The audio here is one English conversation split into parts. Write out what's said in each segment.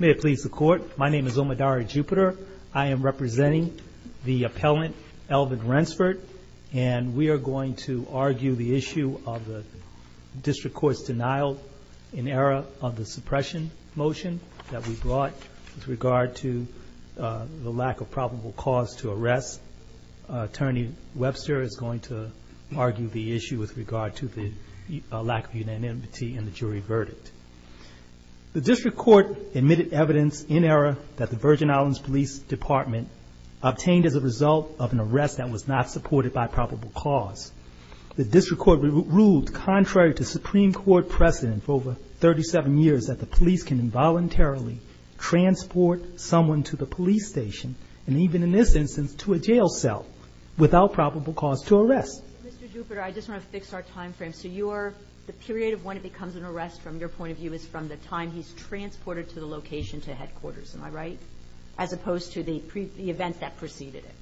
May it please the court, my name is Omodari Jupiter. I am representing the appellant Elvin Wrensford and we are going to argue the issue of the district court's denial in error of the suppression motion that we brought with regard to the lack of probable cause to arrest. Attorney Webster is going to argue the issue with regard to the lack of unanimity in the jury verdict. The district court admitted evidence in error that the Virgin Islands Police Department obtained as a result of an arrest that was not supported by probable cause. The district court ruled contrary to Supreme Court precedent for over 37 years that the police can involuntarily transport someone to the police station and even in this instance to a jail cell without probable cause to arrest. Mr. Jupiter, I just want to fix our time frame. So you are, the period of when it becomes an arrest from your point of view is from the time he's transported to the location to headquarters, am I right? As opposed to the event that preceded it.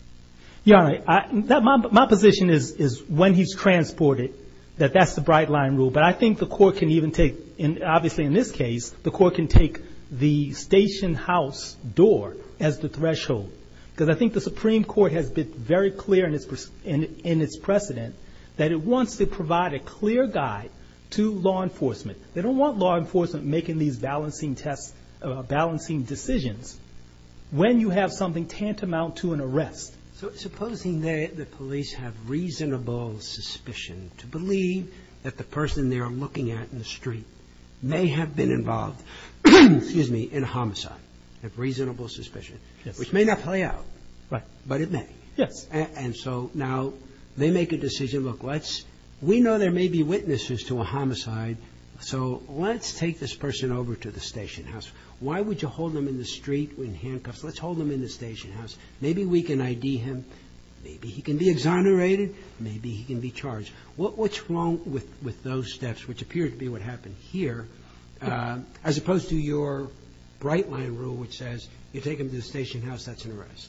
Yeah, my position is when he's transported that that's the bright line rule. But I think the court can even take, obviously in this case, the court can take the station house door as the threshold. Because I think the Supreme Court has been very clear in its precedent that it wants to provide a clear guide to law enforcement. They don't want law enforcement making these balancing tests, balancing decisions when you have something tantamount to an arrest. So supposing that the police have reasonable suspicion to believe that the person they are looking at in the street may have been involved, excuse me, in a homicide, have reasonable suspicion, which may not play out, but it may. And so now they make a decision, look, we know there may be witnesses to a homicide, so let's take this person over to the station house. Why would you hold him in the street in handcuffs? Let's hold him in the station house. Maybe we can ID him. Maybe he can be exonerated. Maybe he can be charged. What's wrong with those steps, which appear to be what happened here, as opposed to your bright line rule, which says you take him to the station house, that's an arrest?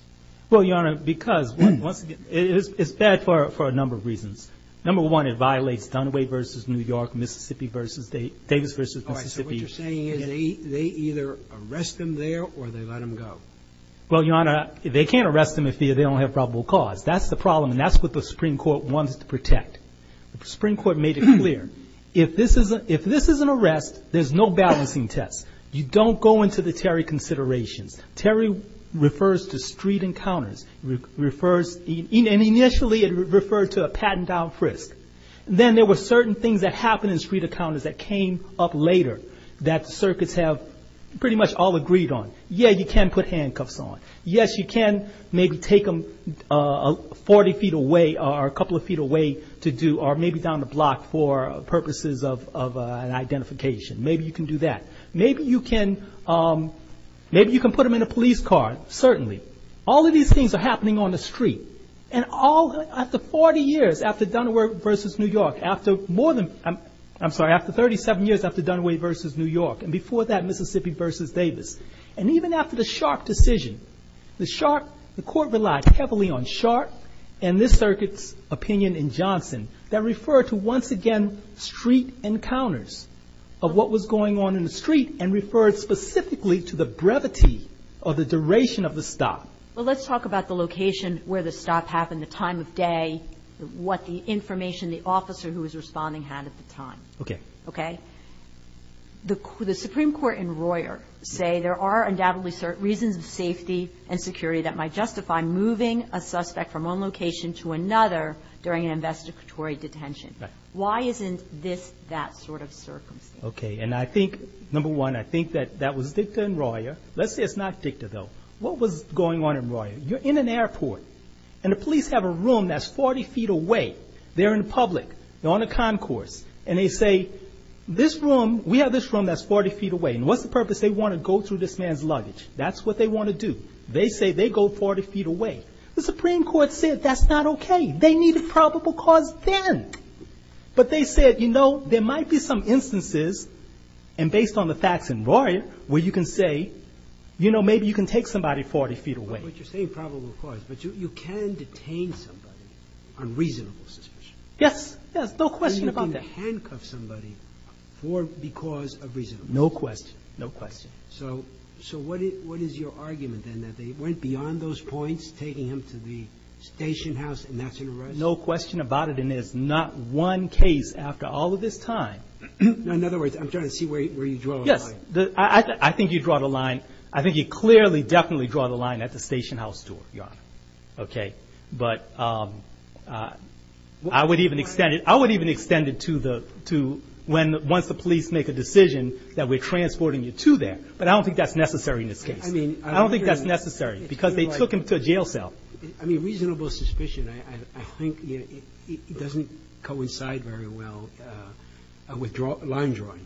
Well, Your Honor, because once again, it's bad for a number of reasons. Number one, it violates Dunaway v. New York, Mississippi v. Davis v. Mississippi. All right, so what you're saying is they either arrest him there or they let him go? Well, Your Honor, they can't arrest him if they don't have probable cause. That's the problem, and that's what the Supreme Court wants to protect. The Supreme Court made it clear. If this is an arrest, there's no balancing test. You don't go into the Terry considerations. Terry refers to street encounters. Initially, it referred to a patting down frisk. Then there were certain things that happened in street encounters that came up later that the circuits have pretty much all agreed on. Yeah, you can put handcuffs on. Yes, you can maybe take him 40 feet away or a couple of feet away to do, or maybe down the block for an identification. Maybe you can do that. Maybe you can put him in a police car, certainly. All of these things are happening on the street, and after 40 years, after Dunaway v. New York, after more than, I'm sorry, after 37 years after Dunaway v. New York, and before that Mississippi v. Davis, and even after the Sharpe decision, the court relied heavily on Sharpe and this circuit's opinion in Johnson that referred to, once again, street encounters of what was going on in the street and referred specifically to the brevity or the duration of the stop. Well, let's talk about the location where the stop happened, the time of day, what the information the officer who was responding had at the time. Okay. Okay. The Supreme Court and Royer say there are undoubtedly reasons of safety and security that might justify moving a suspect from one location to another during an investigatory detention. Why isn't this that sort of circumstance? Okay. And I think, number one, I think that that was Dicta and Royer. Let's say it's not Dicta, though. What was going on in Royer? You're in an airport, and the police have a room that's 40 feet away. They're in public, they're on a concourse, and they say, this room, we have this room that's 40 feet away, and what's the purpose? They want to go through this man's luggage. That's what they want to do. They say they go 40 feet away. The Supreme Court said that's not okay. They needed probable cause then. But they said, you know, there might be some instances, and based on the facts in Royer, where you can say, you know, maybe you can take somebody 40 feet away. But you're saying probable cause, but you can detain somebody on reasonable suspicion. Yes. Yes. No question about that. So you can handcuff somebody because of reasonable suspicion. No question. No question. So what is your argument then, that they went beyond those points, taking him to the station house, and that's an arrest? No question about it, and there's not one case after all of this time. In other words, I'm trying to see where you draw the line. Yes. I think you draw the line. I think you clearly, definitely draw the line at the station house door, Your Honor. Okay? But I would even extend it to when, once the police make the decision that we're transporting you to there. But I don't think that's necessary in this case. I don't think that's necessary, because they took him to a jail cell. I mean, reasonable suspicion, I think, you know, it doesn't coincide very well with line drawing,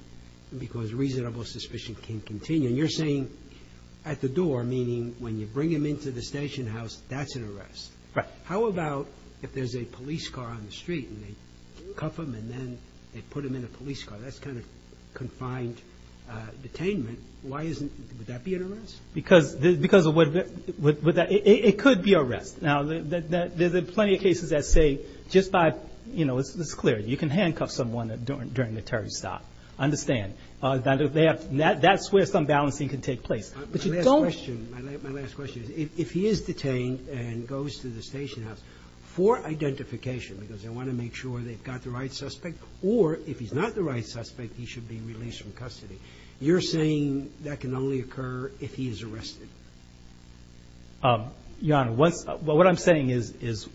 because reasonable suspicion can continue. And you're saying at the door, meaning when you bring him into the station house, that's an arrest. Right. How about if there's a police car on the street, and they cuff him, and then they put him in a police car? That's kind of confined detainment. Why isn't, would that be an arrest? Because of what, it could be arrest. Now, there's plenty of cases that say, just by, you know, it's clear, you can handcuff someone during the terrorist act. Understand. That's where some balancing can take place. My last question, my last question is, if he is detained and goes to the station house for identification, because they want to make sure they've got the right suspect, or if he's not the right suspect, he should be released from custody. You're saying that can only occur if he is arrested. Your Honor, what I'm saying is,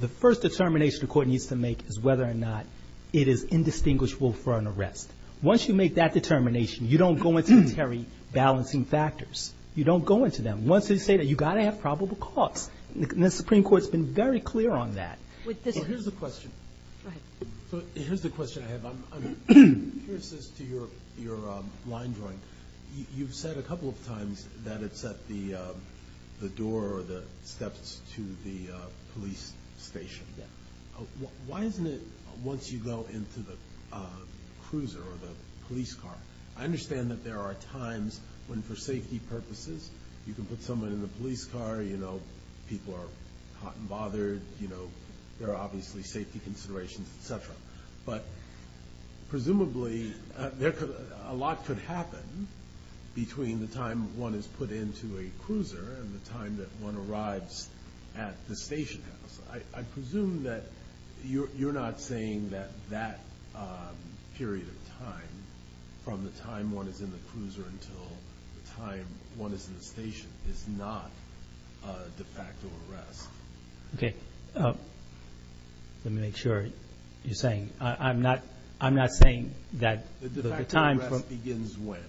the first determination the court needs to make is whether or not it is indistinguishable for an arrest. Once you make that determination, you don't go into the Terry balancing factors. You don't go into them. Once they say that, you've got to have probable cause. The Supreme Court's been very clear on that. With this. Well, here's the question. Go ahead. So, here's the question I have. I'm curious as to your line drawing. You've said a couple of times that it's at the door or the steps to the police station. Why isn't it once you go into the cruiser or the police car? I understand that there are times when, for safety purposes, you can put someone in the police car, you know, people are hot and bothered, you know, there are obviously safety considerations, etc. But, presumably, a lot could happen between the time one is put into a cruiser and the time that one arrives at the station house. I presume that you're not saying that that period of time, from the time one is in the cruiser until the time one is in the station, is not a de facto arrest. Okay. Let me make sure you're saying, I'm not, I'm not saying that the time from... The de facto arrest begins when?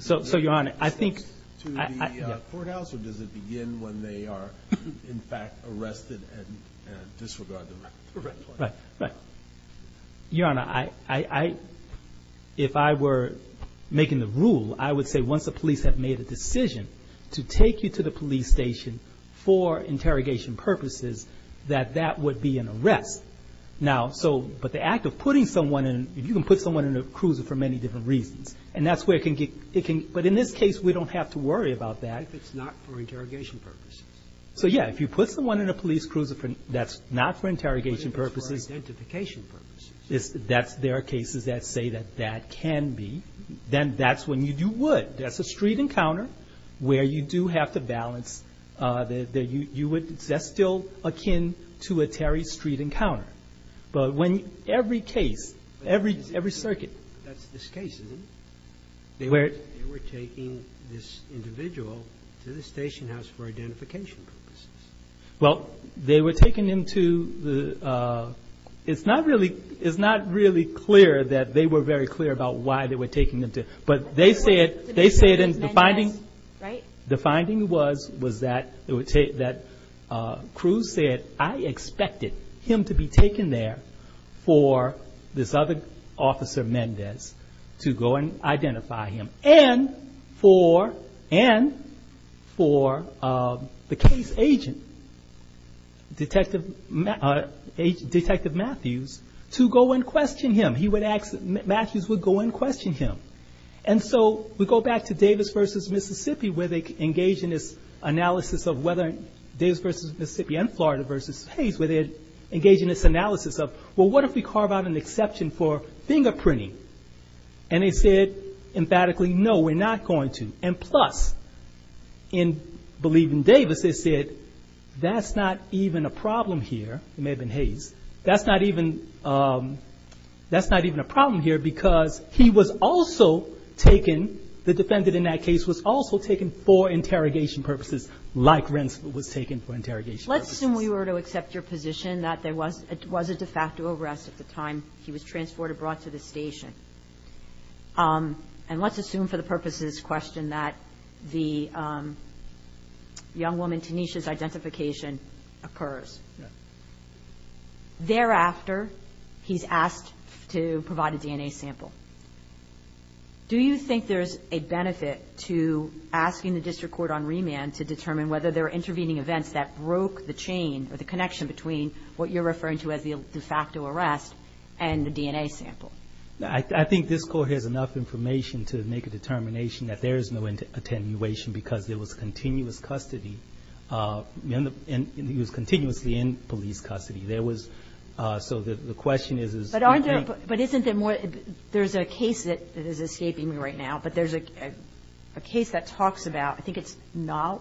So, Your Honor, I think... To the courthouse or does it begin when they are, in fact, arrested and disregarded? Right, right, right. Your Honor, I, if I were making the rule, I would say once the police have made a decision to take you to the police station for interrogation purposes, that that would be an arrest. Now, so, but the act of putting someone in, if you can put someone in a cruiser for many different reasons, and that's where it can get, it can, but in this case, we don't have to worry about that. If it's not for interrogation purposes. So, yeah, if you put someone in a police cruiser for, that's not for interrogation purposes. But if it's for identification purposes. That's, there are cases that say that that can be, then that's when you do what? That's a street encounter where you do have to balance, that you would, that's still akin to a Terry Street encounter. But when every case, every circuit... But that's this case, isn't it? They were... They were taking this individual to the station house for identification purposes. Well, they were taking him to the, it's not really, it's not really clear that they were very clear about why they were taking him to, but they say it, they say it in the finding. Right. The finding was, was that it would take, that Cruz said, I expected him to be taken there for this other officer, Mendez, to go and identify him. And for, and for the case agent, Detective, Detective Matthews, to go and question him. He would ask, Matthews would go and question him. And so we go back to Davis versus Mississippi where they engage in this analysis of whether, Davis versus Mississippi and Florida versus Hayes, where they engage in this analysis of, well, what if we carve out an exception for fingerprinting? And they said emphatically, no, we're not going to. And plus, in believing Davis, they said, that's not even a problem here. It may have been Hayes. That's not even, that's not even a problem here because he was also taken, the defendant in that case was also taken for interrogation purposes, like Rensselaer was taken for interrogation purposes. Let's assume we were to accept your position that there was a de facto arrest at the time he was transported, brought to the station. And let's assume for the purposes of this question that the young woman, Tanisha's identification occurs. Thereafter, he's asked to provide a DNA sample. Do you think there's a benefit to asking the district court on remand to determine whether there are intervening events that broke the chain or the connection between what you're referring to as the de facto arrest and the DNA sample? I think this court has enough information to make a determination that there is no attenuation because there was continuous custody, and he was continuously in police custody. There was, so the question is... But isn't there more, there's a case that is escaping me right now, but there's a case that talks about, I think it's now,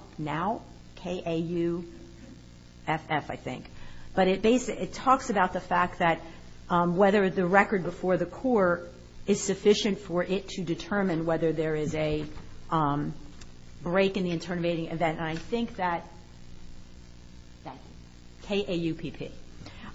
K-A-U-F-F, I think. But it basically, it talks about the fact that whether the record before the court is sufficient for it to determine whether there is a break in the intervening event. And I think that, K-A-U-P-P.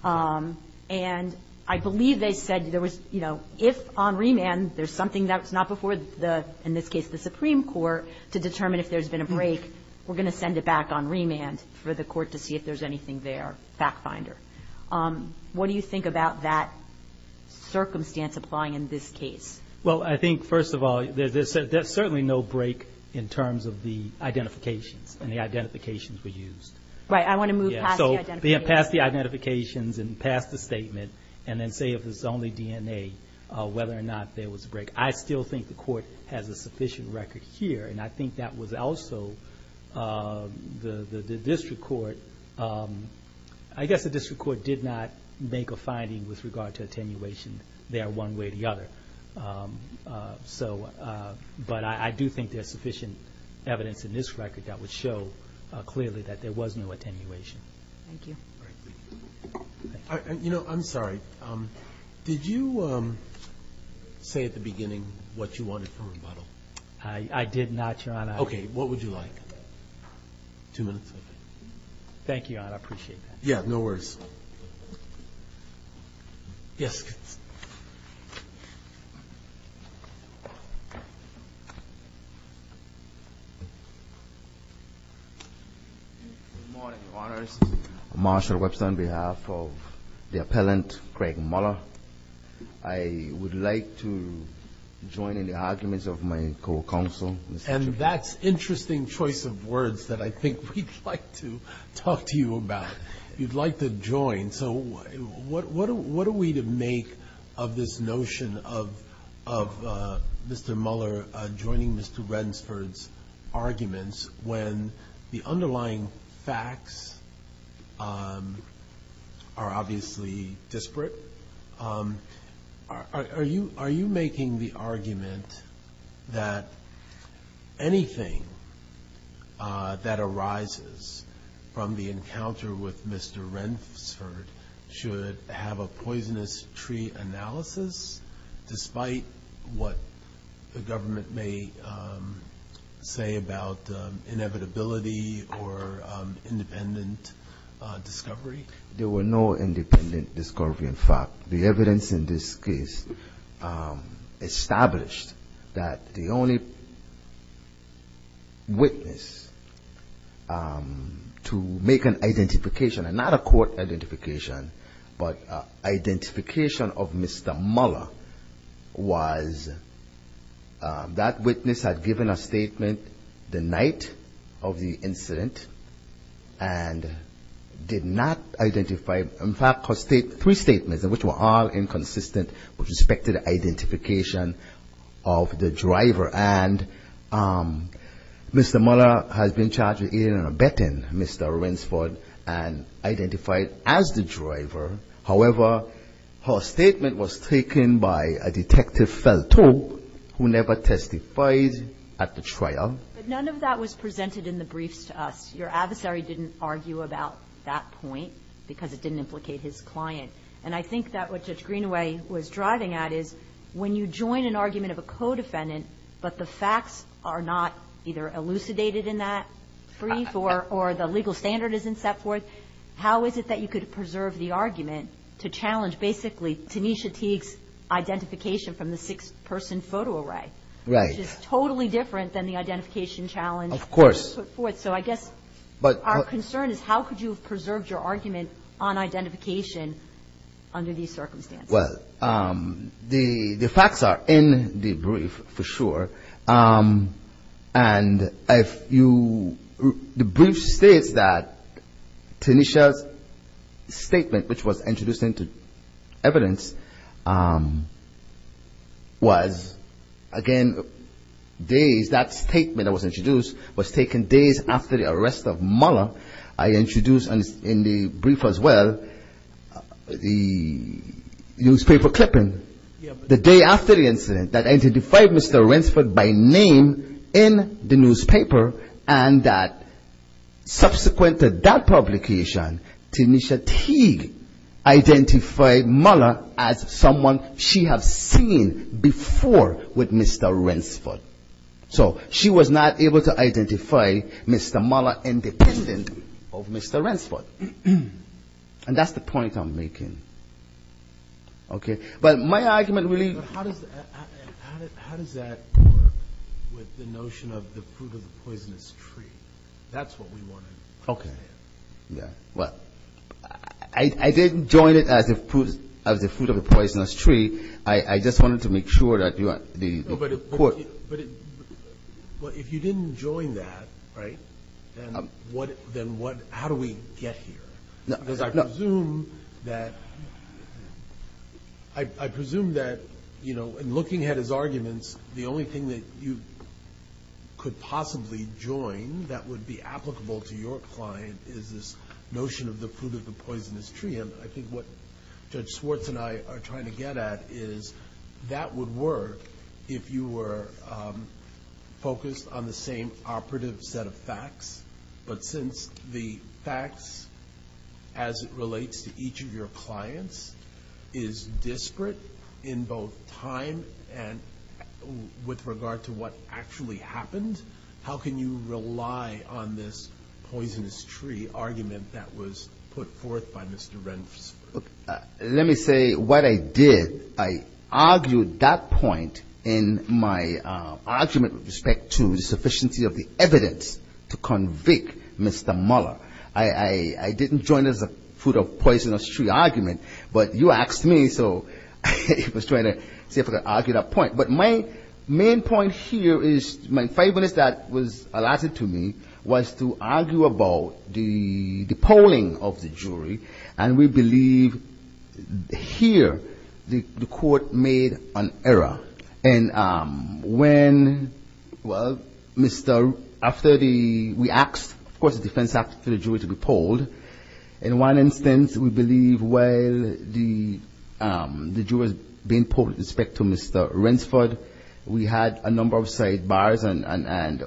And I believe they said there was, you know, if on remand there's something that's not before the, in this case, the Supreme Court, to determine if there's been a break, we're going to send it back on remand for the court to see if there's anything there. Fact finder. What do you think about that circumstance applying in this case? Well, I think, first of all, there's certainly no break in terms of the identifications, and the identifications were used. Right, I want to move past the identifications. Yeah, so past the identifications and past the statement, and then say if it's only DNA, whether or not there was a break. I still think the court has a sufficient record here, and I think that was also, the district court, I guess the district court did not make a finding with regard to attenuation there one way or the other. So, but I do think there's sufficient evidence in this record that would show clearly that there was no attenuation. Thank you. You know, I'm sorry, did you say at the beginning what you wanted from rebuttal? I did not, Your Honor. Okay, what would you like? Two minutes? Thank you, Your Honor, I appreciate that. Yeah, no worries. Yes. Good morning, Your Honors. Marshall Webster on behalf of the appellant, Craig Muller. I would like to join in the arguments of my co-counsel. And that's an interesting choice of words that I think we'd like to talk to you about. You'd like to join, so what are we to make of this notion of Mr. Muller joining Mr. Rendsford's arguments when the underlying facts are obviously disparate? Are you making the argument that anything that arises from the encounter with Mr. Rendsford should have a poisonous tree analysis despite what the government may say about inevitability or independent discovery? There were no independent discovery, in fact. The evidence in this case established that the only witness to make an identification, and not a court identification, but identification of Mr. Muller was that witness had given a statement the night of the incident and did not identify. In fact, her three statements, which were all inconsistent with respect to the identification of the driver. And Mr. Muller has been charged with aiding and abetting Mr. Rendsford and identified as the driver. However, her statement was taken by a detective who never testified at the trial. But none of that was presented in the briefs to us. Your adversary didn't argue about that point because it didn't implicate his client. And I think that what Judge Greenaway was driving at is when you join an argument of a co-defendant, but the facts are not either elucidated in that brief or the legal standard isn't set forth. How is it that you could preserve the argument to challenge basically Tanisha Teague's identification from the six-person photo array? Right. Which is totally different than the identification challenge. Of course. So I guess our concern is how could you have preserved your argument on identification under these circumstances? Well, the facts are in the brief for sure. And if you the brief states that Tanisha's statement, which was introduced into evidence, was, again, days, that statement that was introduced was taken days after the arrest of Muller. I introduced in the brief as well the newspaper clipping the day after the incident that identified Mr. Rensford by name in the newspaper, and that subsequent to that publication, Tanisha Teague identified Muller as someone she had seen before with Mr. Rensford. So she was not able to identify Mr. Muller in the incident of Mr. Rensford. And that's the point I'm making. But my argument really... But how does that work with the notion of the fruit of the poisonous tree? That's what we want to understand. Well, I didn't join it as the fruit of the poisonous tree. I just wanted to make sure that the court... But if you didn't join that, right, then how do we get here? Because I presume that, you know, in looking at his arguments, the only thing that you could possibly join that would be applicable to your client is this notion of the fruit of the poisonous tree. And, again, I think what Judge Swartz and I are trying to get at is that would work if you were focused on the same operative set of facts. But since the facts as it relates to each of your clients is disparate in both time and with regard to what actually happened, how can you rely on this poisonous tree argument that was put forth by Mr. Rensford? Let me say what I did. I argued that point in my argument with respect to the sufficiency of the evidence to convict Mr. Muller. I didn't join it as a fruit of poisonous tree argument. But you asked me, so I was trying to see if I could argue that point. But my main point here is my five minutes that was allotted to me was to argue about the polling of the jury. And we believe here the court made an error. And when, well, Mr. — after the — we asked, of course, the defense after the jury to be polled. In one instance, we believe, well, the jurors being polled with respect to Mr. Rensford, we had a number of sidebars and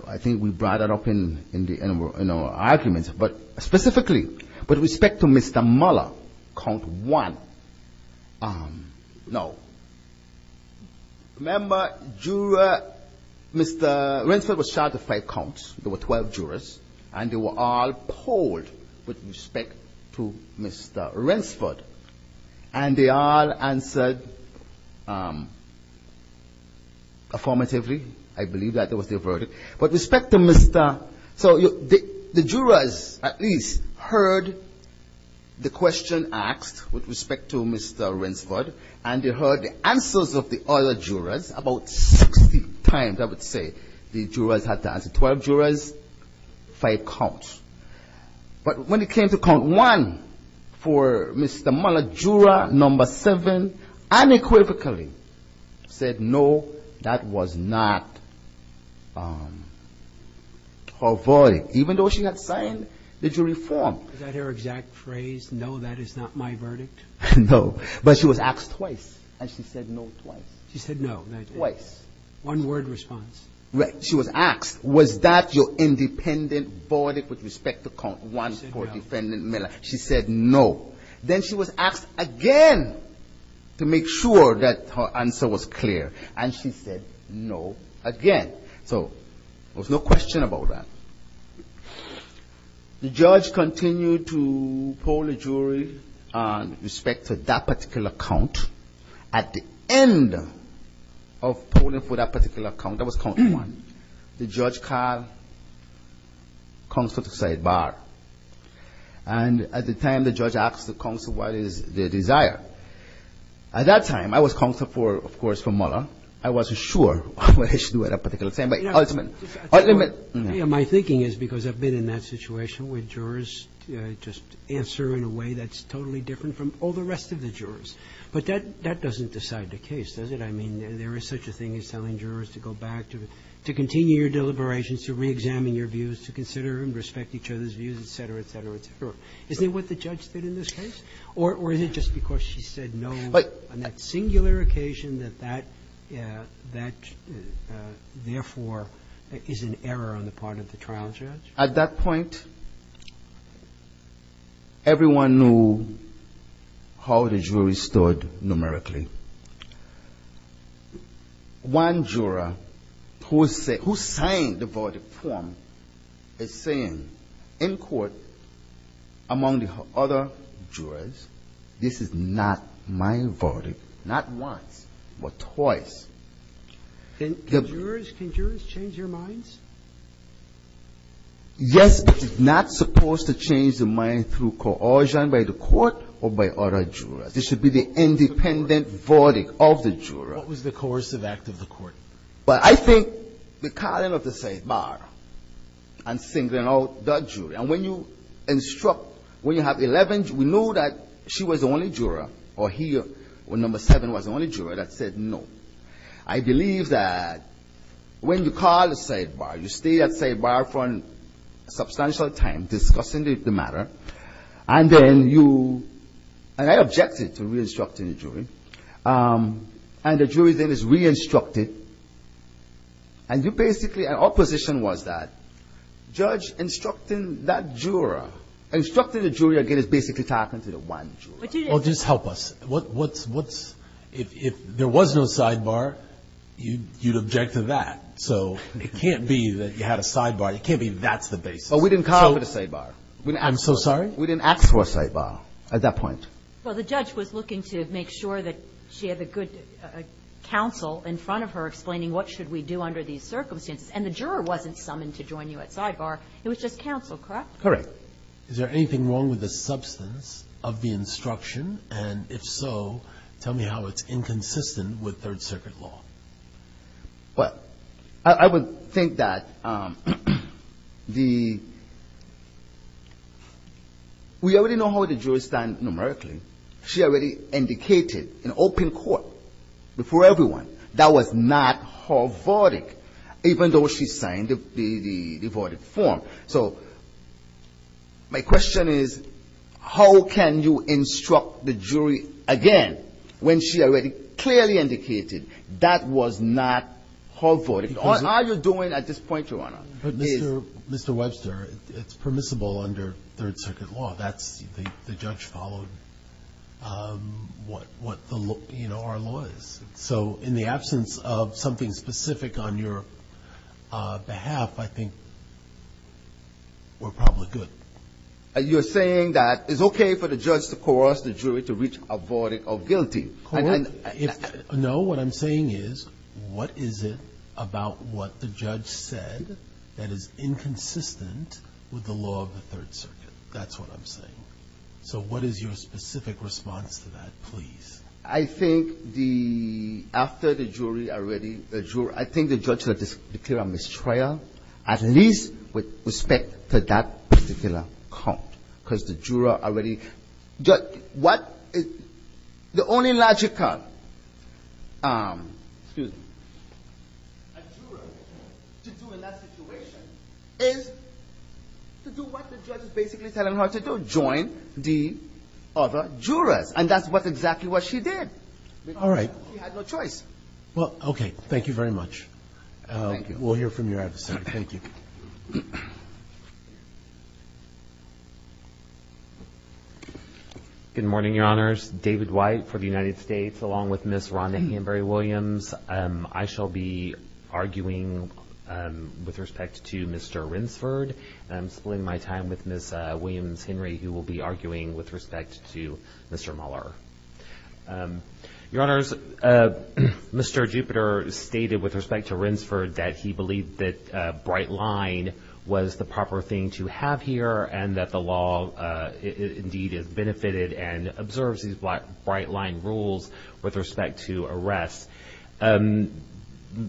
I think we brought it up in our arguments. But specifically, with respect to Mr. Muller, count one, no. Remember, juror — Mr. Rensford was charged with five counts. There were 12 jurors. And they were all polled with respect to Mr. Rensford. And they all answered affirmatively. I believe that was their verdict. With respect to Mr. — so the jurors at least heard the question asked with respect to Mr. Rensford. And they heard the answers of the other jurors about 60 times, I would say, the jurors had to answer. Twelve jurors, five counts. But when it came to count one for Mr. Muller, juror number seven unequivocally said no, that was not her verdict, even though she had signed the jury form. Is that her exact phrase, no, that is not my verdict? No. But she was asked twice. And she said no twice. She said no. Twice. One-word response. She was asked, was that your independent verdict with respect to count one for defendant Muller? She said no. Then she was asked again to make sure that her answer was clear. And she said no again. So there was no question about that. The judge continued to poll the jury with respect to that particular count. At the end of polling for that particular count, that was count one, the judge called counsel to say bar. And at the time, the judge asked the counsel what is their desire. At that time, I was counsel for, of course, for Muller. I wasn't sure what I should do at that particular time. But ultimately my thinking is because I've been in that situation where jurors just answer in a way that's totally different from all the rest of the jurors. But that doesn't decide the case, does it? I mean, there is such a thing as telling jurors to go back, to continue your deliberations, to reexamine your views, to consider and respect each other's views, et cetera, et cetera, et cetera. Isn't it what the judge did in this case? Or is it just because she said no on that singular occasion that that, therefore, is an error on the part of the trial judge? At that point, everyone knew how the jury stood numerically. One juror who signed the verdict form is saying in court, among the other jurors, this is not my verdict, not once but twice. Can jurors change your minds? Yes, but it's not supposed to change the mind through coercion by the court or by other jurors. It should be the independent verdict of the juror. What was the coercive act of the court? Well, I think the calling of the safe bar and singling out that jury. And when you instruct, when you have 11, we know that she was the only juror or he or number seven was the only juror that said no. I believe that when you call the safe bar, you stay at safe bar for a substantial time discussing the matter. And then you, and I objected to re-instructing the jury. And the jury then is re-instructed. And you basically, our position was that judge instructing that juror, instructing the jury again is basically talking to the one juror. Well, just help us. What's, if there was no sidebar, you'd object to that. So it can't be that you had a sidebar. It can't be that's the basis. But we didn't call it a sidebar. I'm so sorry? We didn't ask for a sidebar at that point. Well, the judge was looking to make sure that she had a good counsel in front of her explaining what should we do under these circumstances. And the juror wasn't summoned to join you at sidebar. It was just counsel, correct? Correct. Is there anything wrong with the substance of the instruction? And if so, tell me how it's inconsistent with Third Circuit law. Well, I would think that the we already know how the jury stands numerically. She already indicated in open court before everyone that was not her verdict, even though she signed the verdict form. So my question is how can you instruct the jury again when she already clearly indicated that was not her verdict? All you're doing at this point, Your Honor, is ---- But, Mr. Webster, it's permissible under Third Circuit law. That's the judge followed what the law, you know, our law is. So in the absence of something specific on your behalf, I think we're probably good. You're saying that it's okay for the judge to coerce the jury to reach a verdict of guilty. No, what I'm saying is what is it about what the judge said that is inconsistent with the law of the Third Circuit? That's what I'm saying. So what is your specific response to that, please? I think the ---- after the jury already ---- I think the judge will declare a mistrial, at least with respect to that particular count, because the juror already ---- What the only logical, excuse me, a juror to do in that situation is to do what the judge is basically telling her to do, join the other jurors. And that's exactly what she did. All right. She had no choice. Well, okay. Thank you very much. Thank you. We'll hear from your adversary. Thank you. Good morning, Your Honors. David White for the United States, along with Ms. Rhonda Hanbury Williams. I shall be arguing with respect to Mr. Rinsford. And I'm splitting my time with Ms. Williams-Henry, who will be arguing with respect to Mr. Mueller. Your Honors, Mr. Jupiter stated with respect to Rinsford that he believed that bright line was the proper thing to have here and that the law indeed has benefited and observes these bright line rules with respect to arrests.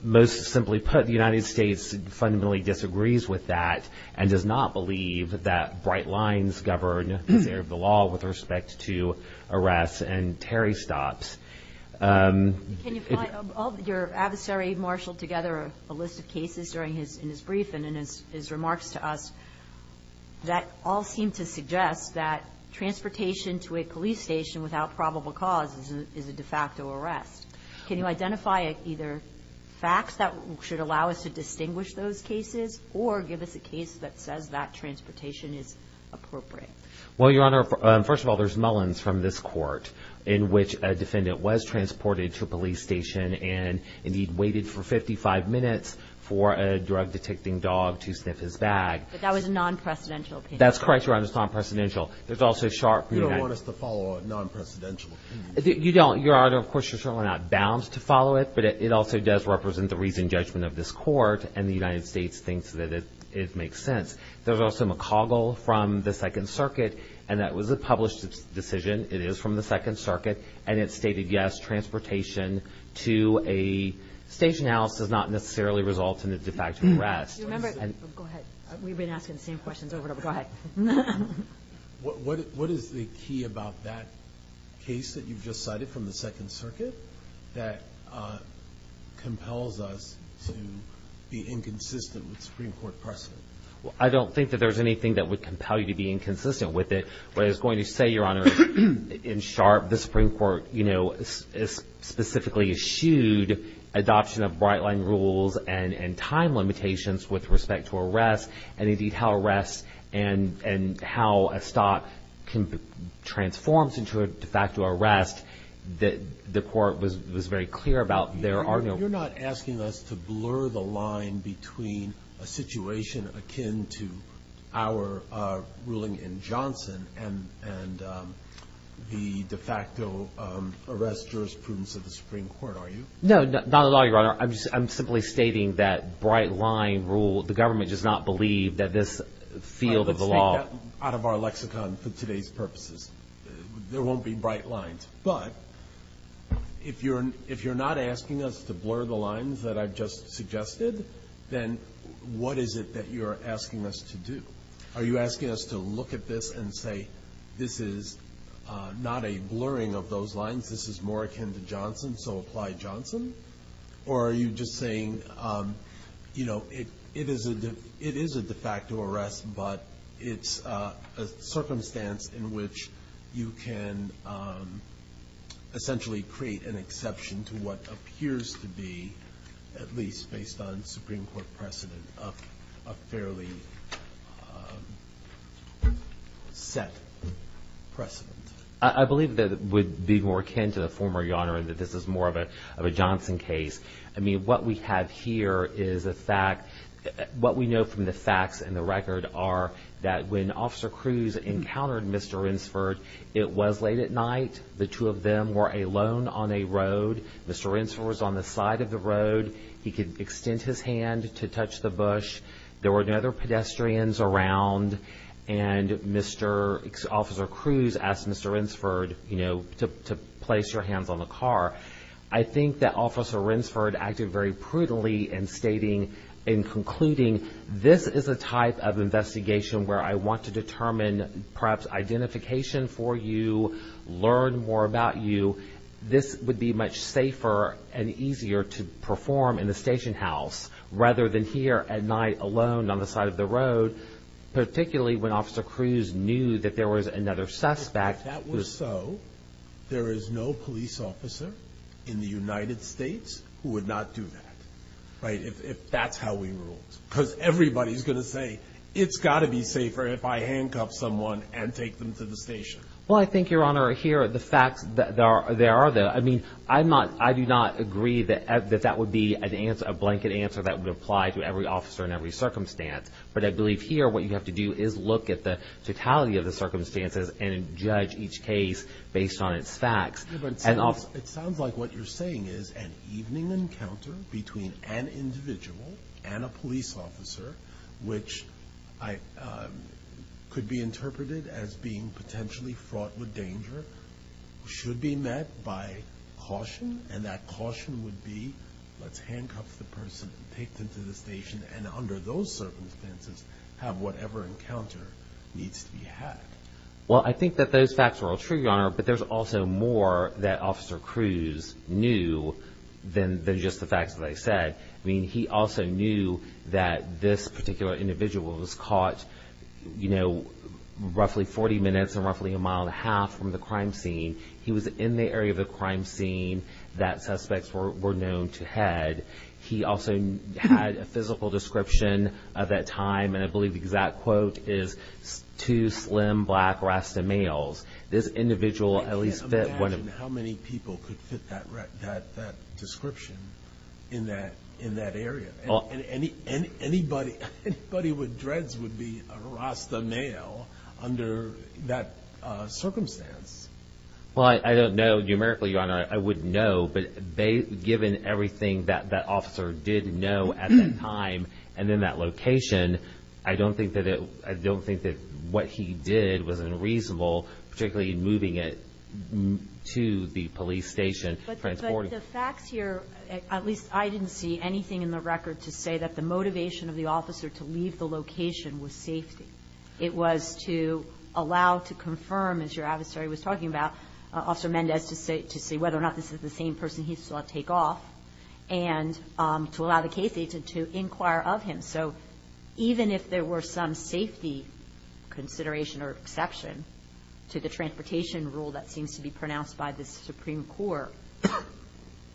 Most simply put, the United States fundamentally disagrees with that and does not believe that bright lines govern the law with respect to arrests and tarry stops. Can you find all of your adversary marshaled together a list of cases during his brief and in his remarks to us that all seem to suggest that transportation to a police station without probable cause is a de facto arrest. Can you identify either facts that should allow us to distinguish those cases or give us a case that says that transportation is appropriate? Well, Your Honor, first of all, there's Mullins from this court in which a defendant was transported to a police station and he'd waited for 55 minutes for a drug detecting dog to sniff his bag. But that was a non-presidential opinion. That's correct, Your Honor. It was non-presidential. There's also Sharpe. You don't want us to follow a non-presidential opinion. You don't. Well, Your Honor, of course, you're certainly not bound to follow it, but it also does represent the reasoned judgment of this court and the United States thinks that it makes sense. There's also McCoggle from the Second Circuit and that was a published decision. It is from the Second Circuit and it stated, yes, transportation to a station house does not necessarily result in a de facto arrest. Do you remember? Go ahead. We've been asking the same questions over and over. Go ahead. What is the key about that case that you've just cited from the Second Circuit that compels us to be inconsistent with Supreme Court precedent? Well, I don't think that there's anything that would compel you to be inconsistent with it, but I was going to say, Your Honor, in Sharpe, the Supreme Court, you know, specifically eschewed adoption of bright line rules and time limitations with respect to arrests and indeed how arrests and how a stock transforms into a de facto arrest that the court was very clear about. You're not asking us to blur the line between a situation akin to our ruling in Johnson and the de facto arrest jurisprudence of the Supreme Court, are you? No, not at all, Your Honor. I'm simply stating that bright line rule, the government does not believe that this field of the law- Let's take that out of our lexicon for today's purposes. There won't be bright lines, but if you're not asking us to blur the lines that I've just suggested, then what is it that you're asking us to do? Are you asking us to look at this and say, this is not a blurring of those lines, this is more akin to Johnson, so apply Johnson? Or are you just saying, you know, it is a de facto arrest, but it's a circumstance in which you can essentially create an exception to what appears to be, at least based on Supreme Court precedent, a fairly set precedent? I believe that it would be more akin to the former, Your Honor, and that this is more of a Johnson case. I mean, what we have here is a fact, what we know from the facts and the record are that when Officer Cruz encountered Mr. Rinsford, it was late at night, the two of them were alone on a road, Mr. Rinsford was on the side of the road, he could extend his hand to touch the bush, there were no other pedestrians around, and Mr. Officer Cruz asked Mr. Rinsford, you know, to place your hands on the car. I think that Officer Rinsford acted very brutally in stating, in concluding, this is a type of investigation where I want to determine perhaps identification for you, learn more about you, this would be much safer and easier to perform in the station house, rather than here at night alone on the side of the road, particularly when Officer Cruz knew that there was another suspect. If that were so, there is no police officer in the United States who would not do that, right? If that's how we ruled. Because everybody's going to say, it's got to be safer if I handcuff someone and take them to the station. Well, I think, Your Honor, here are the facts, there are, I mean, I'm not, I do not agree that that would be a blanket answer that would apply to every officer in every circumstance. But I believe here what you have to do is look at the totality of the circumstances and judge each case based on its facts. It sounds like what you're saying is an evening encounter between an individual and a police officer, which could be interpreted as being potentially fraught with danger, should be met by caution, and that caution would be, let's handcuff the person, take them to the station, and under those circumstances, have whatever encounter needs to be had. Well, I think that those facts are all true, Your Honor, but there's also more that Officer Cruz knew than just the facts that I said. I mean, he also knew that this particular individual was caught, you know, roughly 40 minutes and roughly a mile and a half from the crime scene. He was in the area of the crime scene that suspects were known to head. He also had a physical description of that time, and I believe the exact quote is, two slim, black Rasta males. This individual at least fit one of them. I can't imagine how many people could fit that description in that area. Anybody with dreads would be a Rasta male under that circumstance. Well, I don't know numerically, Your Honor. I wouldn't know, but given everything that that officer did know at that time and in that location, I don't think that what he did was unreasonable, particularly in moving it to the police station. But the facts here, at least I didn't see anything in the record to say that the motivation of the officer to leave the location was safety. It was to allow, to confirm, as your adversary was talking about, Officer Mendez to say whether or not this is the same person he saw take off, and to allow the case agent to inquire of him. So even if there were some safety consideration or exception to the transportation rule that seems to be pronounced by the Supreme Court,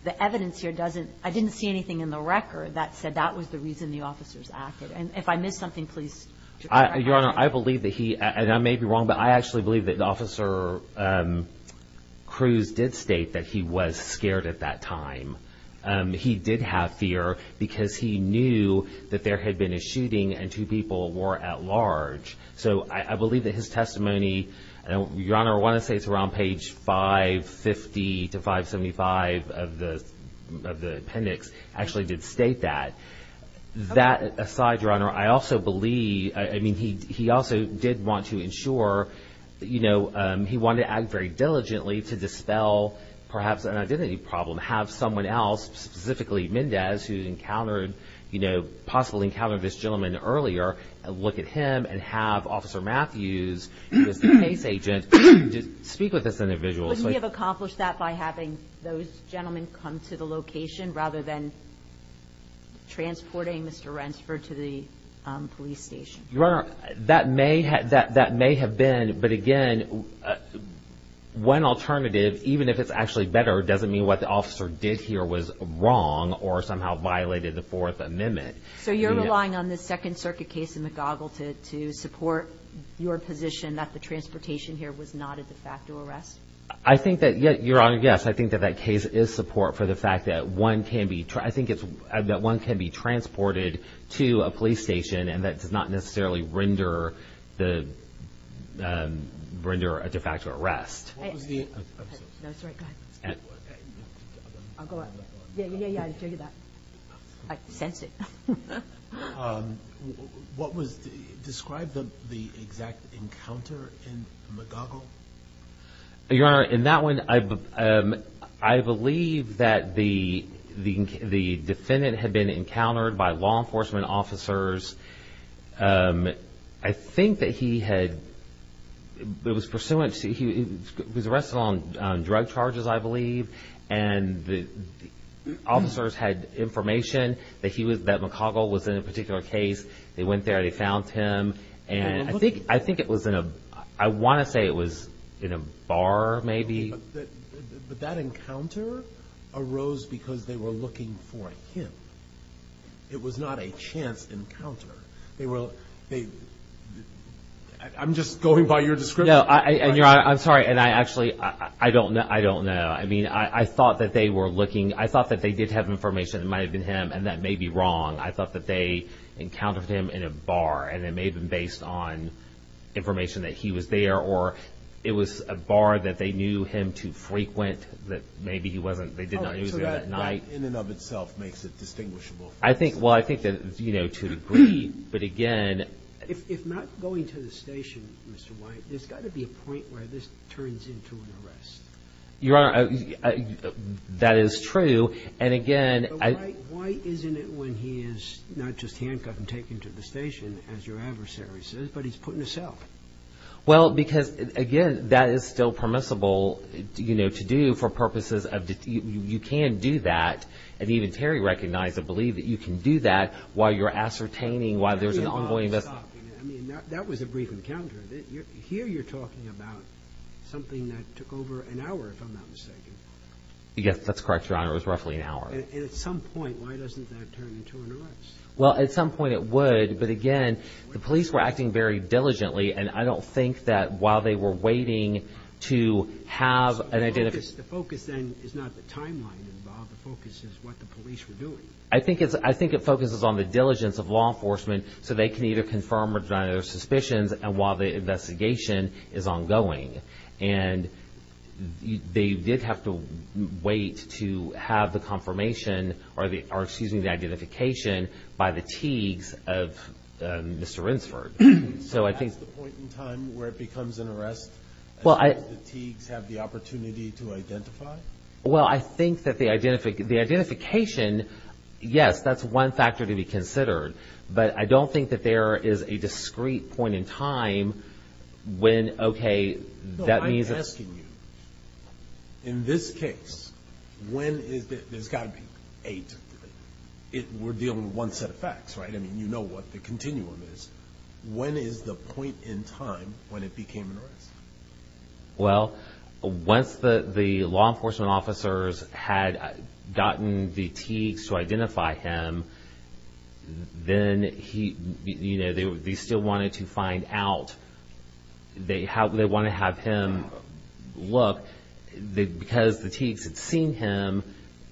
the evidence here doesn't, I didn't see anything in the record that said that was the reason the officers acted. And if I missed something, please correct me. Your Honor, I believe that he, and I may be wrong, but I actually believe that Officer Cruz did state that he was scared at that time. He did have fear because he knew that there had been a shooting and two people were at large. So I believe that his testimony, and Your Honor, I want to say it's around page 550 to 575 of the appendix, actually did state that. That aside, Your Honor, I also believe, I mean, he also did want to ensure, you know, he wanted to act very diligently to dispel perhaps an identity problem. Have someone else, specifically Mendez, who encountered, you know, possibly encountered this gentleman earlier, look at him and have Officer Matthews, who is the case agent, speak with this individual. Wouldn't he have accomplished that by having those gentlemen come to the location rather than transporting Mr. Rensfer to the police station? Your Honor, that may have been, but again, one alternative, even if it's actually better, doesn't mean what the officer did here was wrong or somehow violated the Fourth Amendment. So you're relying on the Second Circuit case in McGaugle to support your position that the transportation here was not a de facto arrest? I think that, Your Honor, yes. I think that that case is support for the fact that one can be transported to a police station and that does not necessarily render a de facto arrest. I'm sorry, go ahead. I'll go up. Yeah, yeah, yeah, I can tell you that. I sensed it. Describe the exact encounter in McGaugle. Your Honor, in that one, I believe that the defendant had been encountered by law enforcement officers. I think that he was arrested on drug charges, I believe, and the officers had information that McGaugle was in a particular case. They went there. They found him. I want to say it was in a bar, maybe. But that encounter arose because they were looking for him. It was not a chance encounter. I'm just going by your description. Your Honor, I'm sorry, and I actually don't know. I mean, I thought that they were looking. I thought that they did have information that it might have been him, and that may be wrong. I thought that they encountered him in a bar, and it may have been based on information that he was there, or it was a bar that they knew him to frequent that maybe he wasn't. So that in and of itself makes it distinguishable. Well, I think to a degree, but again. If not going to the station, Mr. White, there's got to be a point where this turns into an arrest. Your Honor, that is true, and again. But, White, why isn't it when he is not just handcuffed and taken to the station, as your adversary says, but he's put in a cell? Well, because, again, that is still permissible to do for purposes of... You can do that, and even Terry recognized the belief that you can do that while you're ascertaining why there's an ongoing... I mean, that was a brief encounter. Here you're talking about something that took over an hour, if I'm not mistaken. Yes, that's correct, Your Honor. It was roughly an hour. And at some point, why doesn't that turn into an arrest? Well, at some point it would, but again, the police were acting very diligently, and I don't think that while they were waiting to have an identification... So the focus then is not the timeline involved. The focus is what the police were doing. I think it focuses on the diligence of law enforcement so they can either confirm or deny their suspicions while the investigation is ongoing. And they did have to wait to have the confirmation or, excuse me, the identification by the Teagues of Mr. Rinsford. So that's the point in time where it becomes an arrest as far as the Teagues have the opportunity to identify? Well, I think that the identification, yes, that's one factor to be considered. But I don't think that there is a discrete point in time when, okay, that means... No, I'm asking you, in this case, when is the... there's got to be eight. We're dealing with one set of facts, right? I mean, you know what the continuum is. When is the point in time when it became an arrest? Well, once the law enforcement officers had gotten the Teagues to identify him, then he... you know, they still wanted to find out. They want to have him look because the Teagues had seen him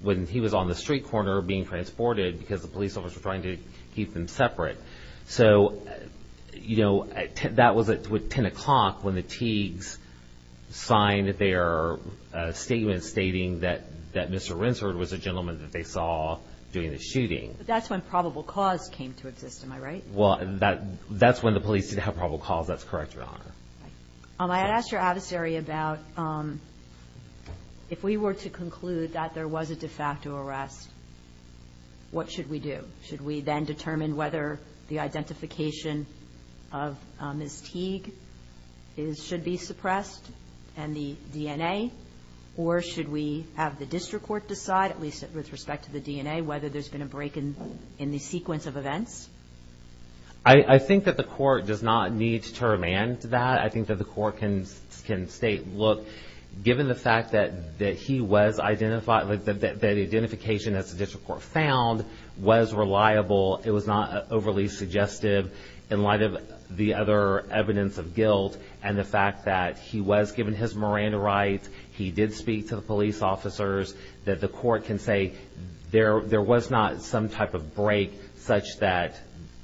when he was on the street corner being transported because the police officers were trying to keep them separate. So, you know, that was at 10 o'clock when the Teagues signed their statement stating that Mr. Rinsford was the gentleman that they saw during the shooting. But that's when probable cause came to exist, am I right? Well, that's when the police did have probable cause. That's correct, Your Honor. I had asked your adversary about if we were to conclude that there was a de facto arrest, what should we do? Should we then determine whether the identification of Ms. Teague should be suppressed and the DNA? Or should we have the district court decide, at least with respect to the DNA, whether there's been a break in the sequence of events? I think that the court does not need to remand that. I think that the court can state, look, given the fact that he was identified... it was not overly suggestive in light of the other evidence of guilt and the fact that he was given his Miranda rights, he did speak to the police officers, that the court can say there was not some type of break such that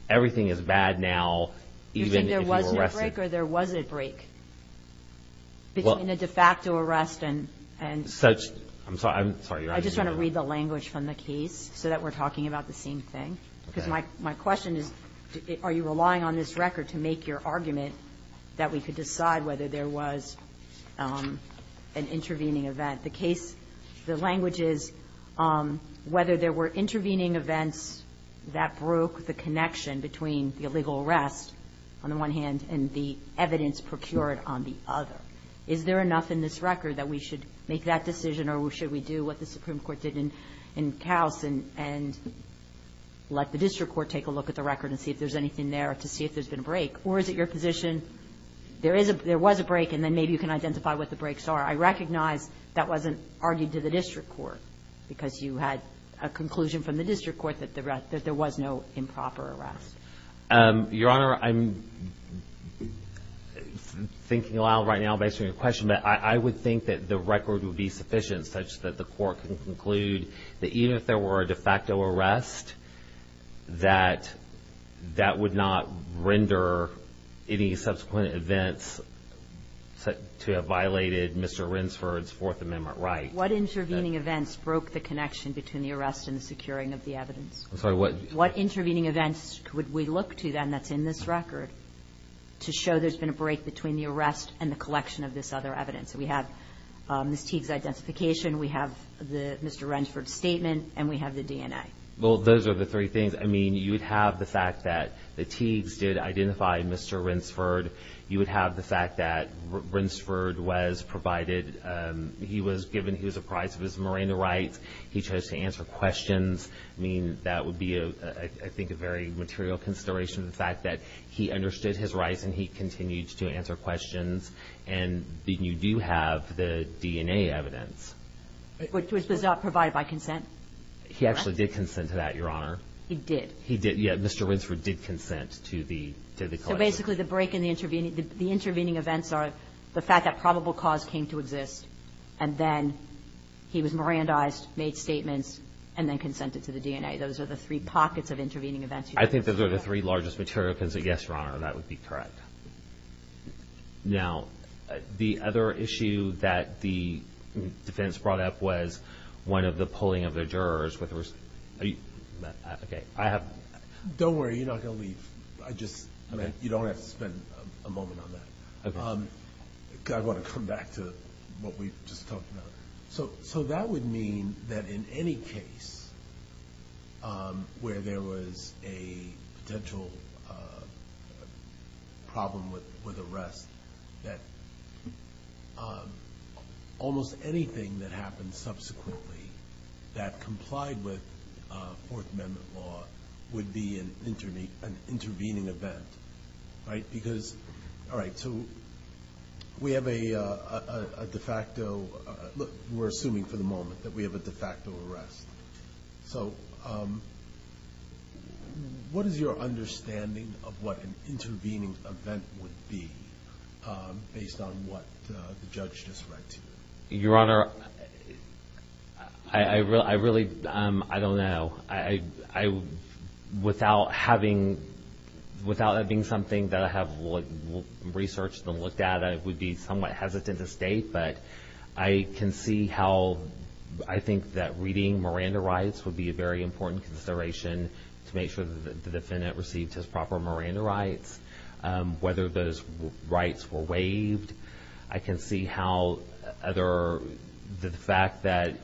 everything is bad now. You think there was no break or there was a break between a de facto arrest and... I'm sorry, Your Honor. I just want to read the language from the case so that we're talking about the same thing. Because my question is, are you relying on this record to make your argument that we could decide whether there was an intervening event? The case, the language is, whether there were intervening events that broke the connection between the illegal arrest, on the one hand, and the evidence procured on the other. Is there enough in this record that we should make that decision or should we do what the Supreme Court did in Kaus and let the district court take a look at the record and see if there's anything there to see if there's been a break? Or is it your position there was a break and then maybe you can identify what the breaks are? I recognize that wasn't argued to the district court because you had a conclusion from the district court that there was no improper arrest. Your Honor, I'm thinking a lot right now based on your question, but I would think that the record would be sufficient such that the court can conclude that even if there were a de facto arrest, that that would not render any subsequent events to have violated Mr. Rinsford's Fourth Amendment right. What intervening events broke the connection between the arrest and the securing of the evidence? I'm sorry, what? What intervening events would we look to then that's in this record to show there's been a break between the arrest and the collection of this other evidence? We have Ms. Teague's identification, we have Mr. Rinsford's statement, and we have the DNA. Well, those are the three things. I mean, you would have the fact that the Teagues did identify Mr. Rinsford. You would have the fact that Rinsford was provided, he was given, he was apprised of his marina rights. He chose to answer questions. I mean, that would be, I think, a very material consideration, the fact that he understood his rights and he continued to answer questions. And you do have the DNA evidence. Which was not provided by consent? He actually did consent to that, Your Honor. He did? He did. Yeah, Mr. Rinsford did consent to the collection. So basically the break in the intervening events are the fact that probable cause came to exist, and then he was Mirandized, made statements, and then consented to the DNA. Those are the three pockets of intervening events. I think those are the three largest material considerations. Yes, Your Honor, that would be correct. Now, the other issue that the defense brought up was one of the pulling of the jurors. Don't worry, you're not going to leave. You don't have to spend a moment on that. I want to come back to what we just talked about. So that would mean that in any case where there was a potential problem with arrest, that almost anything that happened subsequently that complied with Fourth Amendment law would be an intervening event, right? Because, all right, so we have a de facto. Look, we're assuming for the moment that we have a de facto arrest. So what is your understanding of what an intervening event would be based on what the judge just read to you? Your Honor, I really don't know. Without that being something that I have researched and looked at, I would be somewhat hesitant to state, but I can see how I think that reading Miranda rights would be a very important consideration to make sure that the defendant received his proper Miranda rights. Whether those rights were waived, I can see how the fact that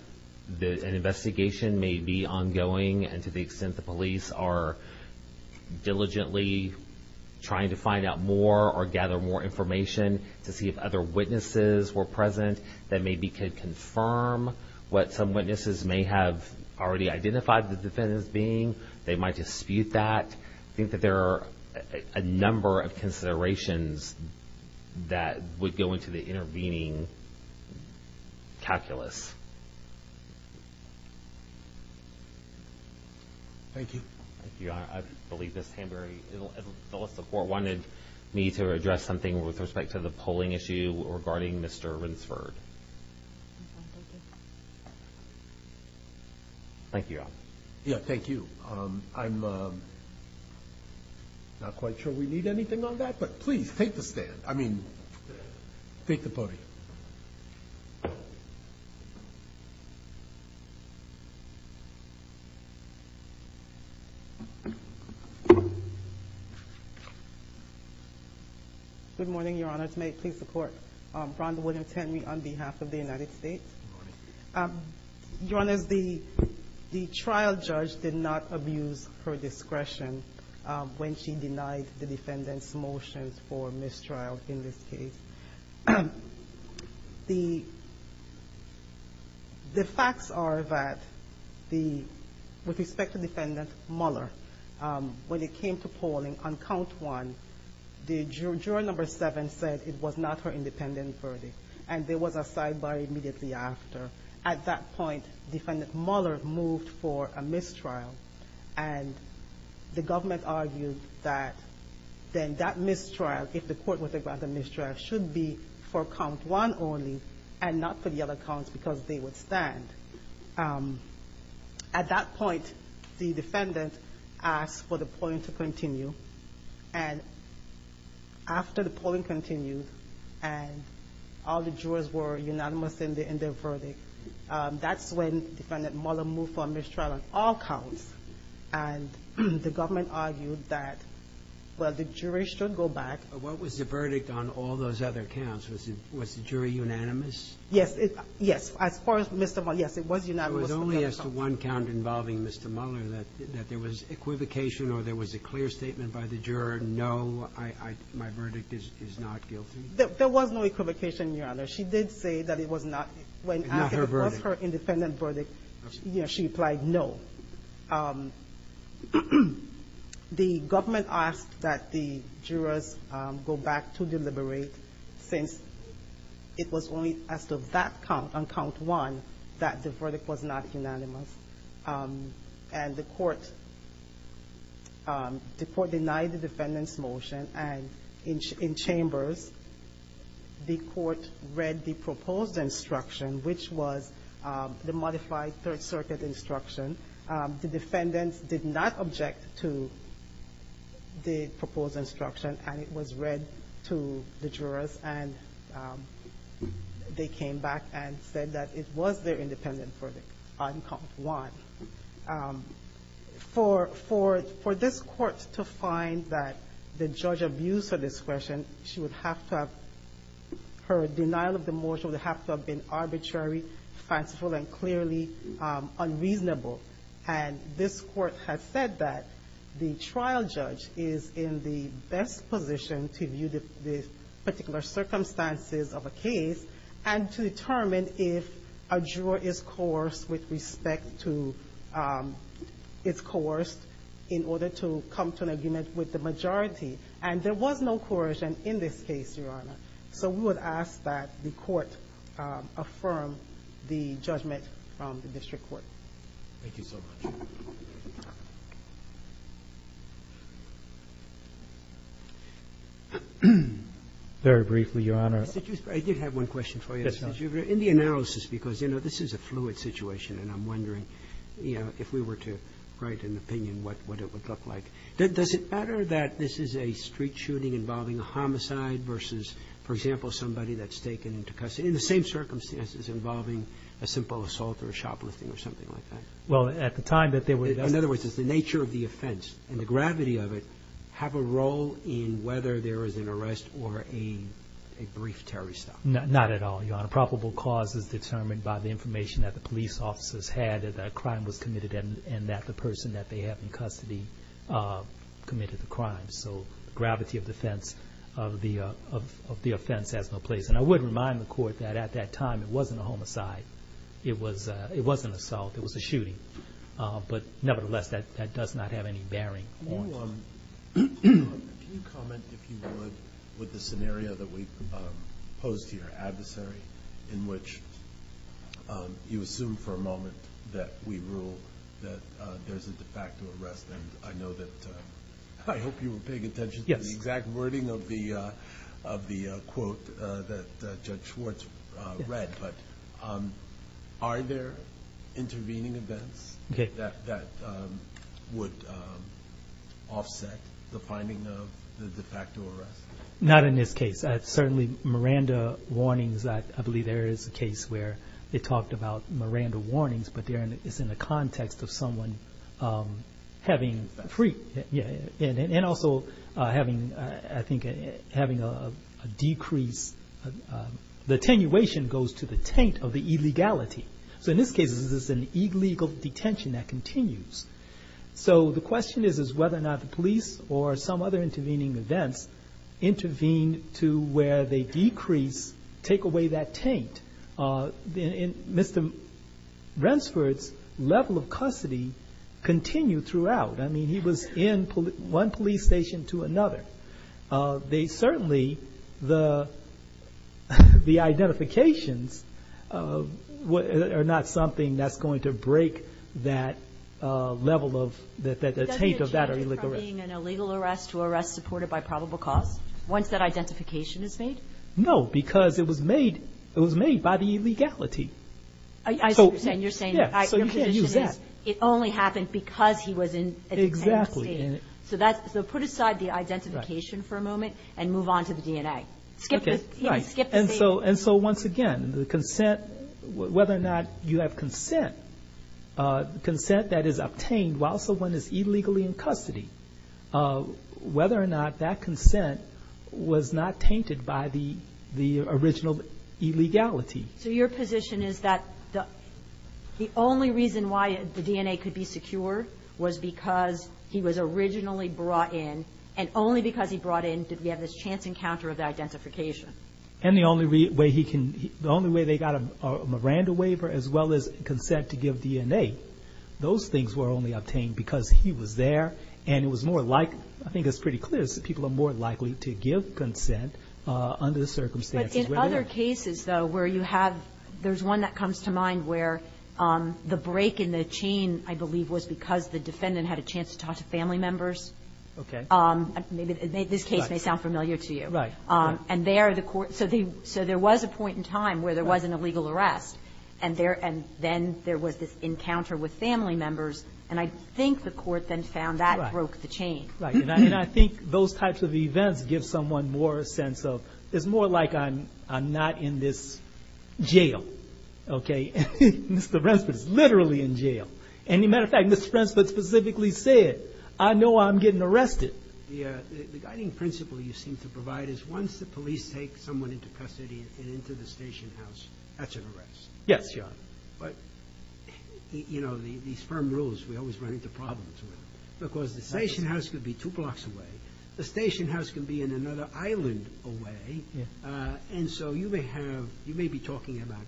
an investigation may be ongoing and to the extent the police are diligently trying to find out more or gather more information to see if other witnesses were present that maybe could confirm what some witnesses may have already identified the defendant as being. They might dispute that. I think that there are a number of considerations that would go into the intervening calculus. Thank you. Your Honor, I believe that the court wanted me to address something with respect to the polling issue regarding Mr. Rinsford. Thank you, Your Honor. Yes, thank you. I'm not quite sure we need anything on that, but please take the stand. I mean, take the podium. Good morning, Your Honor. May it please the Court. Rhonda William Tenney on behalf of the United States. Good morning. Your Honor, the trial judge did not abuse her discretion when she denied the defendant's motions for mistrial in this case. The facts are that with respect to defendant Mueller, when it came to polling on count one, the juror number seven said it was not her independent verdict and there was a sidebar immediately after. At that point, defendant Mueller moved for a mistrial, and the government argued that then that mistrial, if the court was to grant the mistrial, should be for count one only and not for the other counts because they would stand. At that point, the defendant asked for the polling to continue, and after the polling continued and all the jurors were unanimous in their verdict, that's when defendant Mueller moved for a mistrial on all counts, and the government argued that, well, the jury should go back. But what was the verdict on all those other counts? Was the jury unanimous? Yes, as far as Mr. Mueller, yes, it was unanimous. It was only as to one count involving Mr. Mueller that there was equivocation or there was a clear statement by the juror, no, my verdict is not guilty. There was no equivocation, Your Honor. She did say that it was not her independent verdict. She applied no. The government asked that the jurors go back to deliberate since it was only as to that count on count one that the verdict was not unanimous, and the court denied the defendant's motion, and in chambers the court read the proposed instruction, which was the modified Third Circuit instruction. The defendants did not object to the proposed instruction, and it was read to the jurors, and they came back and said that it was their independent verdict on count one. For this court to find that the judge abused her discretion, she would have to have her denial of the motion would have to have been arbitrary, fanciful, and clearly unreasonable. And this court has said that the trial judge is in the best position to view the particular circumstances of a case and to determine if a juror is coerced with respect to its coerced in order to come to an agreement with the majority, and there was no coercion in this case, Your Honor. So we would ask that the court affirm the judgment from the district court. Thank you so much. Very briefly, Your Honor. I did have one question for you. Yes, Your Honor. In the analysis, because, you know, this is a fluid situation, and I'm wondering, you know, if we were to write an opinion, what it would look like. Does it matter that this is a street shooting involving a homicide versus, for example, somebody that's taken into custody in the same circumstances involving a simple assault or a shoplifting or something like that? Well, at the time that they were investigating. In other words, does the nature of the offense and the gravity of it have a role in whether there is an arrest or a brief terrorist attack? Not at all, Your Honor. Probable cause is determined by the information that the police officers had that a crime was committed and that the person that they have in custody committed the crime. So the gravity of the offense has no place. And I would remind the court that at that time it wasn't a homicide. It wasn't an assault. It was a shooting. But nevertheless, that does not have any bearing on it. Your Honor, can you comment, if you would, with the scenario that we posed here, adversary, in which you assume for a moment that we rule that there's a de facto arrest. And I hope you were paying attention to the exact wording of the quote that Judge Schwartz read. Are there intervening events that would offset the finding of the de facto arrest? Not in this case. Certainly Miranda warnings, I believe there is a case where they talked about Miranda warnings, but it's in the context of someone having And also having, I think, having a decrease, the attenuation goes to the taint of the illegality. So in this case, this is an illegal detention that continues. So the question is whether or not the police or some other intervening events intervene to where they decrease, take away that taint. Mr. Rensford's level of custody continued throughout. I mean, he was in one police station to another. They certainly, the identifications are not something that's going to break that level of, the taint of that or illegal arrest. Does it change from being an illegal arrest to arrest supported by probable cause once that identification is made? No, because it was made by the illegality. I see what you're saying. It only happened because he was in a state. So put aside the identification for a moment and move on to the DNA. And so once again, the consent, whether or not you have consent, consent that is obtained while someone is illegally in custody, whether or not that consent was not tainted by the original illegality. So your position is that the only reason why the DNA could be secure was because he was originally brought in, and only because he brought in did we have this chance encounter of the identification. And the only way he can, the only way they got a Miranda waiver as well as consent to give DNA, those things were only obtained because he was there and it was more likely, I think it's pretty clear, people are more likely to give consent under the circumstances. But in other cases, though, where you have, there's one that comes to mind where the break in the chain, I believe, was because the defendant had a chance to talk to family members. Okay. This case may sound familiar to you. Right. So there was a point in time where there wasn't a legal arrest, and then there was this encounter with family members, and I think the court then found that broke the chain. Right, and I think those types of events give someone more a sense of it's more like I'm not in this jail. Okay. Mr. Rensford is literally in jail. And, as a matter of fact, Mr. Rensford specifically said, I know I'm getting arrested. The guiding principle you seem to provide is once the police take someone into custody and into the station house, that's an arrest. Yes, Your Honor. But, you know, these firm rules, we always run into problems with them. Because the station house could be two blocks away. The station house can be on another island away. And so you may have, you may be talking about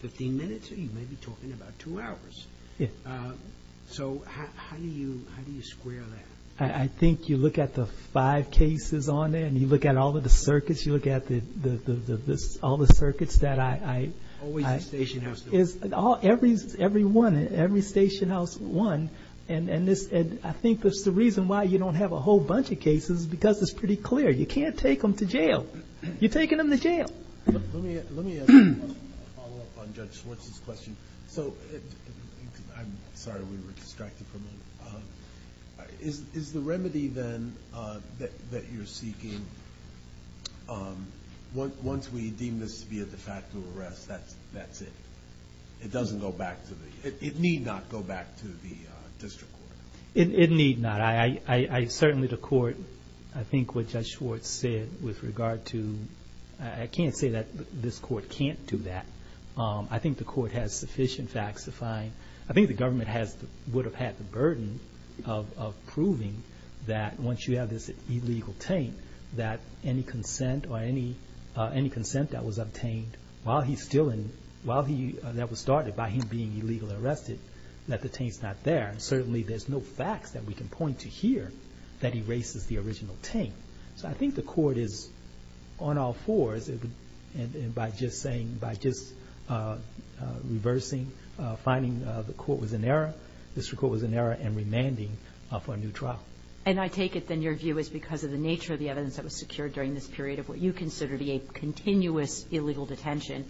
15 minutes, or you may be talking about two hours. Yes. So how do you square that? I think you look at the five cases on there, and you look at all of the circuits, you look at all the circuits that I... Always the station house. Every one, every station house one. And I think that's the reason why you don't have a whole bunch of cases, because it's pretty clear. You can't take them to jail. You're taking them to jail. Let me ask a follow-up on Judge Schwartz's question. So, I'm sorry we were distracted for a moment. Is the remedy, then, that you're seeking, once we deem this to be a de facto arrest, that's it? It doesn't go back to the... It need not go back to the district court. It need not. Certainly the court, I think what Judge Schwartz said with regard to... I can't say that this court can't do that. I think the court has sufficient facts to find... I think the government would have had the burden of proving that once you have this illegal taint, that any consent or any consent that was obtained while he's still in... while that was started by him being illegally arrested, that the taint's not there. And certainly there's no facts that we can point to here that erases the original taint. So I think the court is on all fours. And by just saying, by just reversing, finding the court was in error, the district court was in error and remanding for a new trial. And I take it then your view is because of the nature of the evidence that was secured during this period of what you consider to be a continuous illegal detention,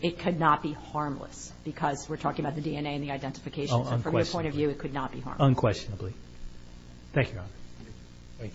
it could not be harmless, because we're talking about the DNA and the identification. So from your point of view, it could not be harmless. Unquestionably. Thank you, Your Honor. Thank you.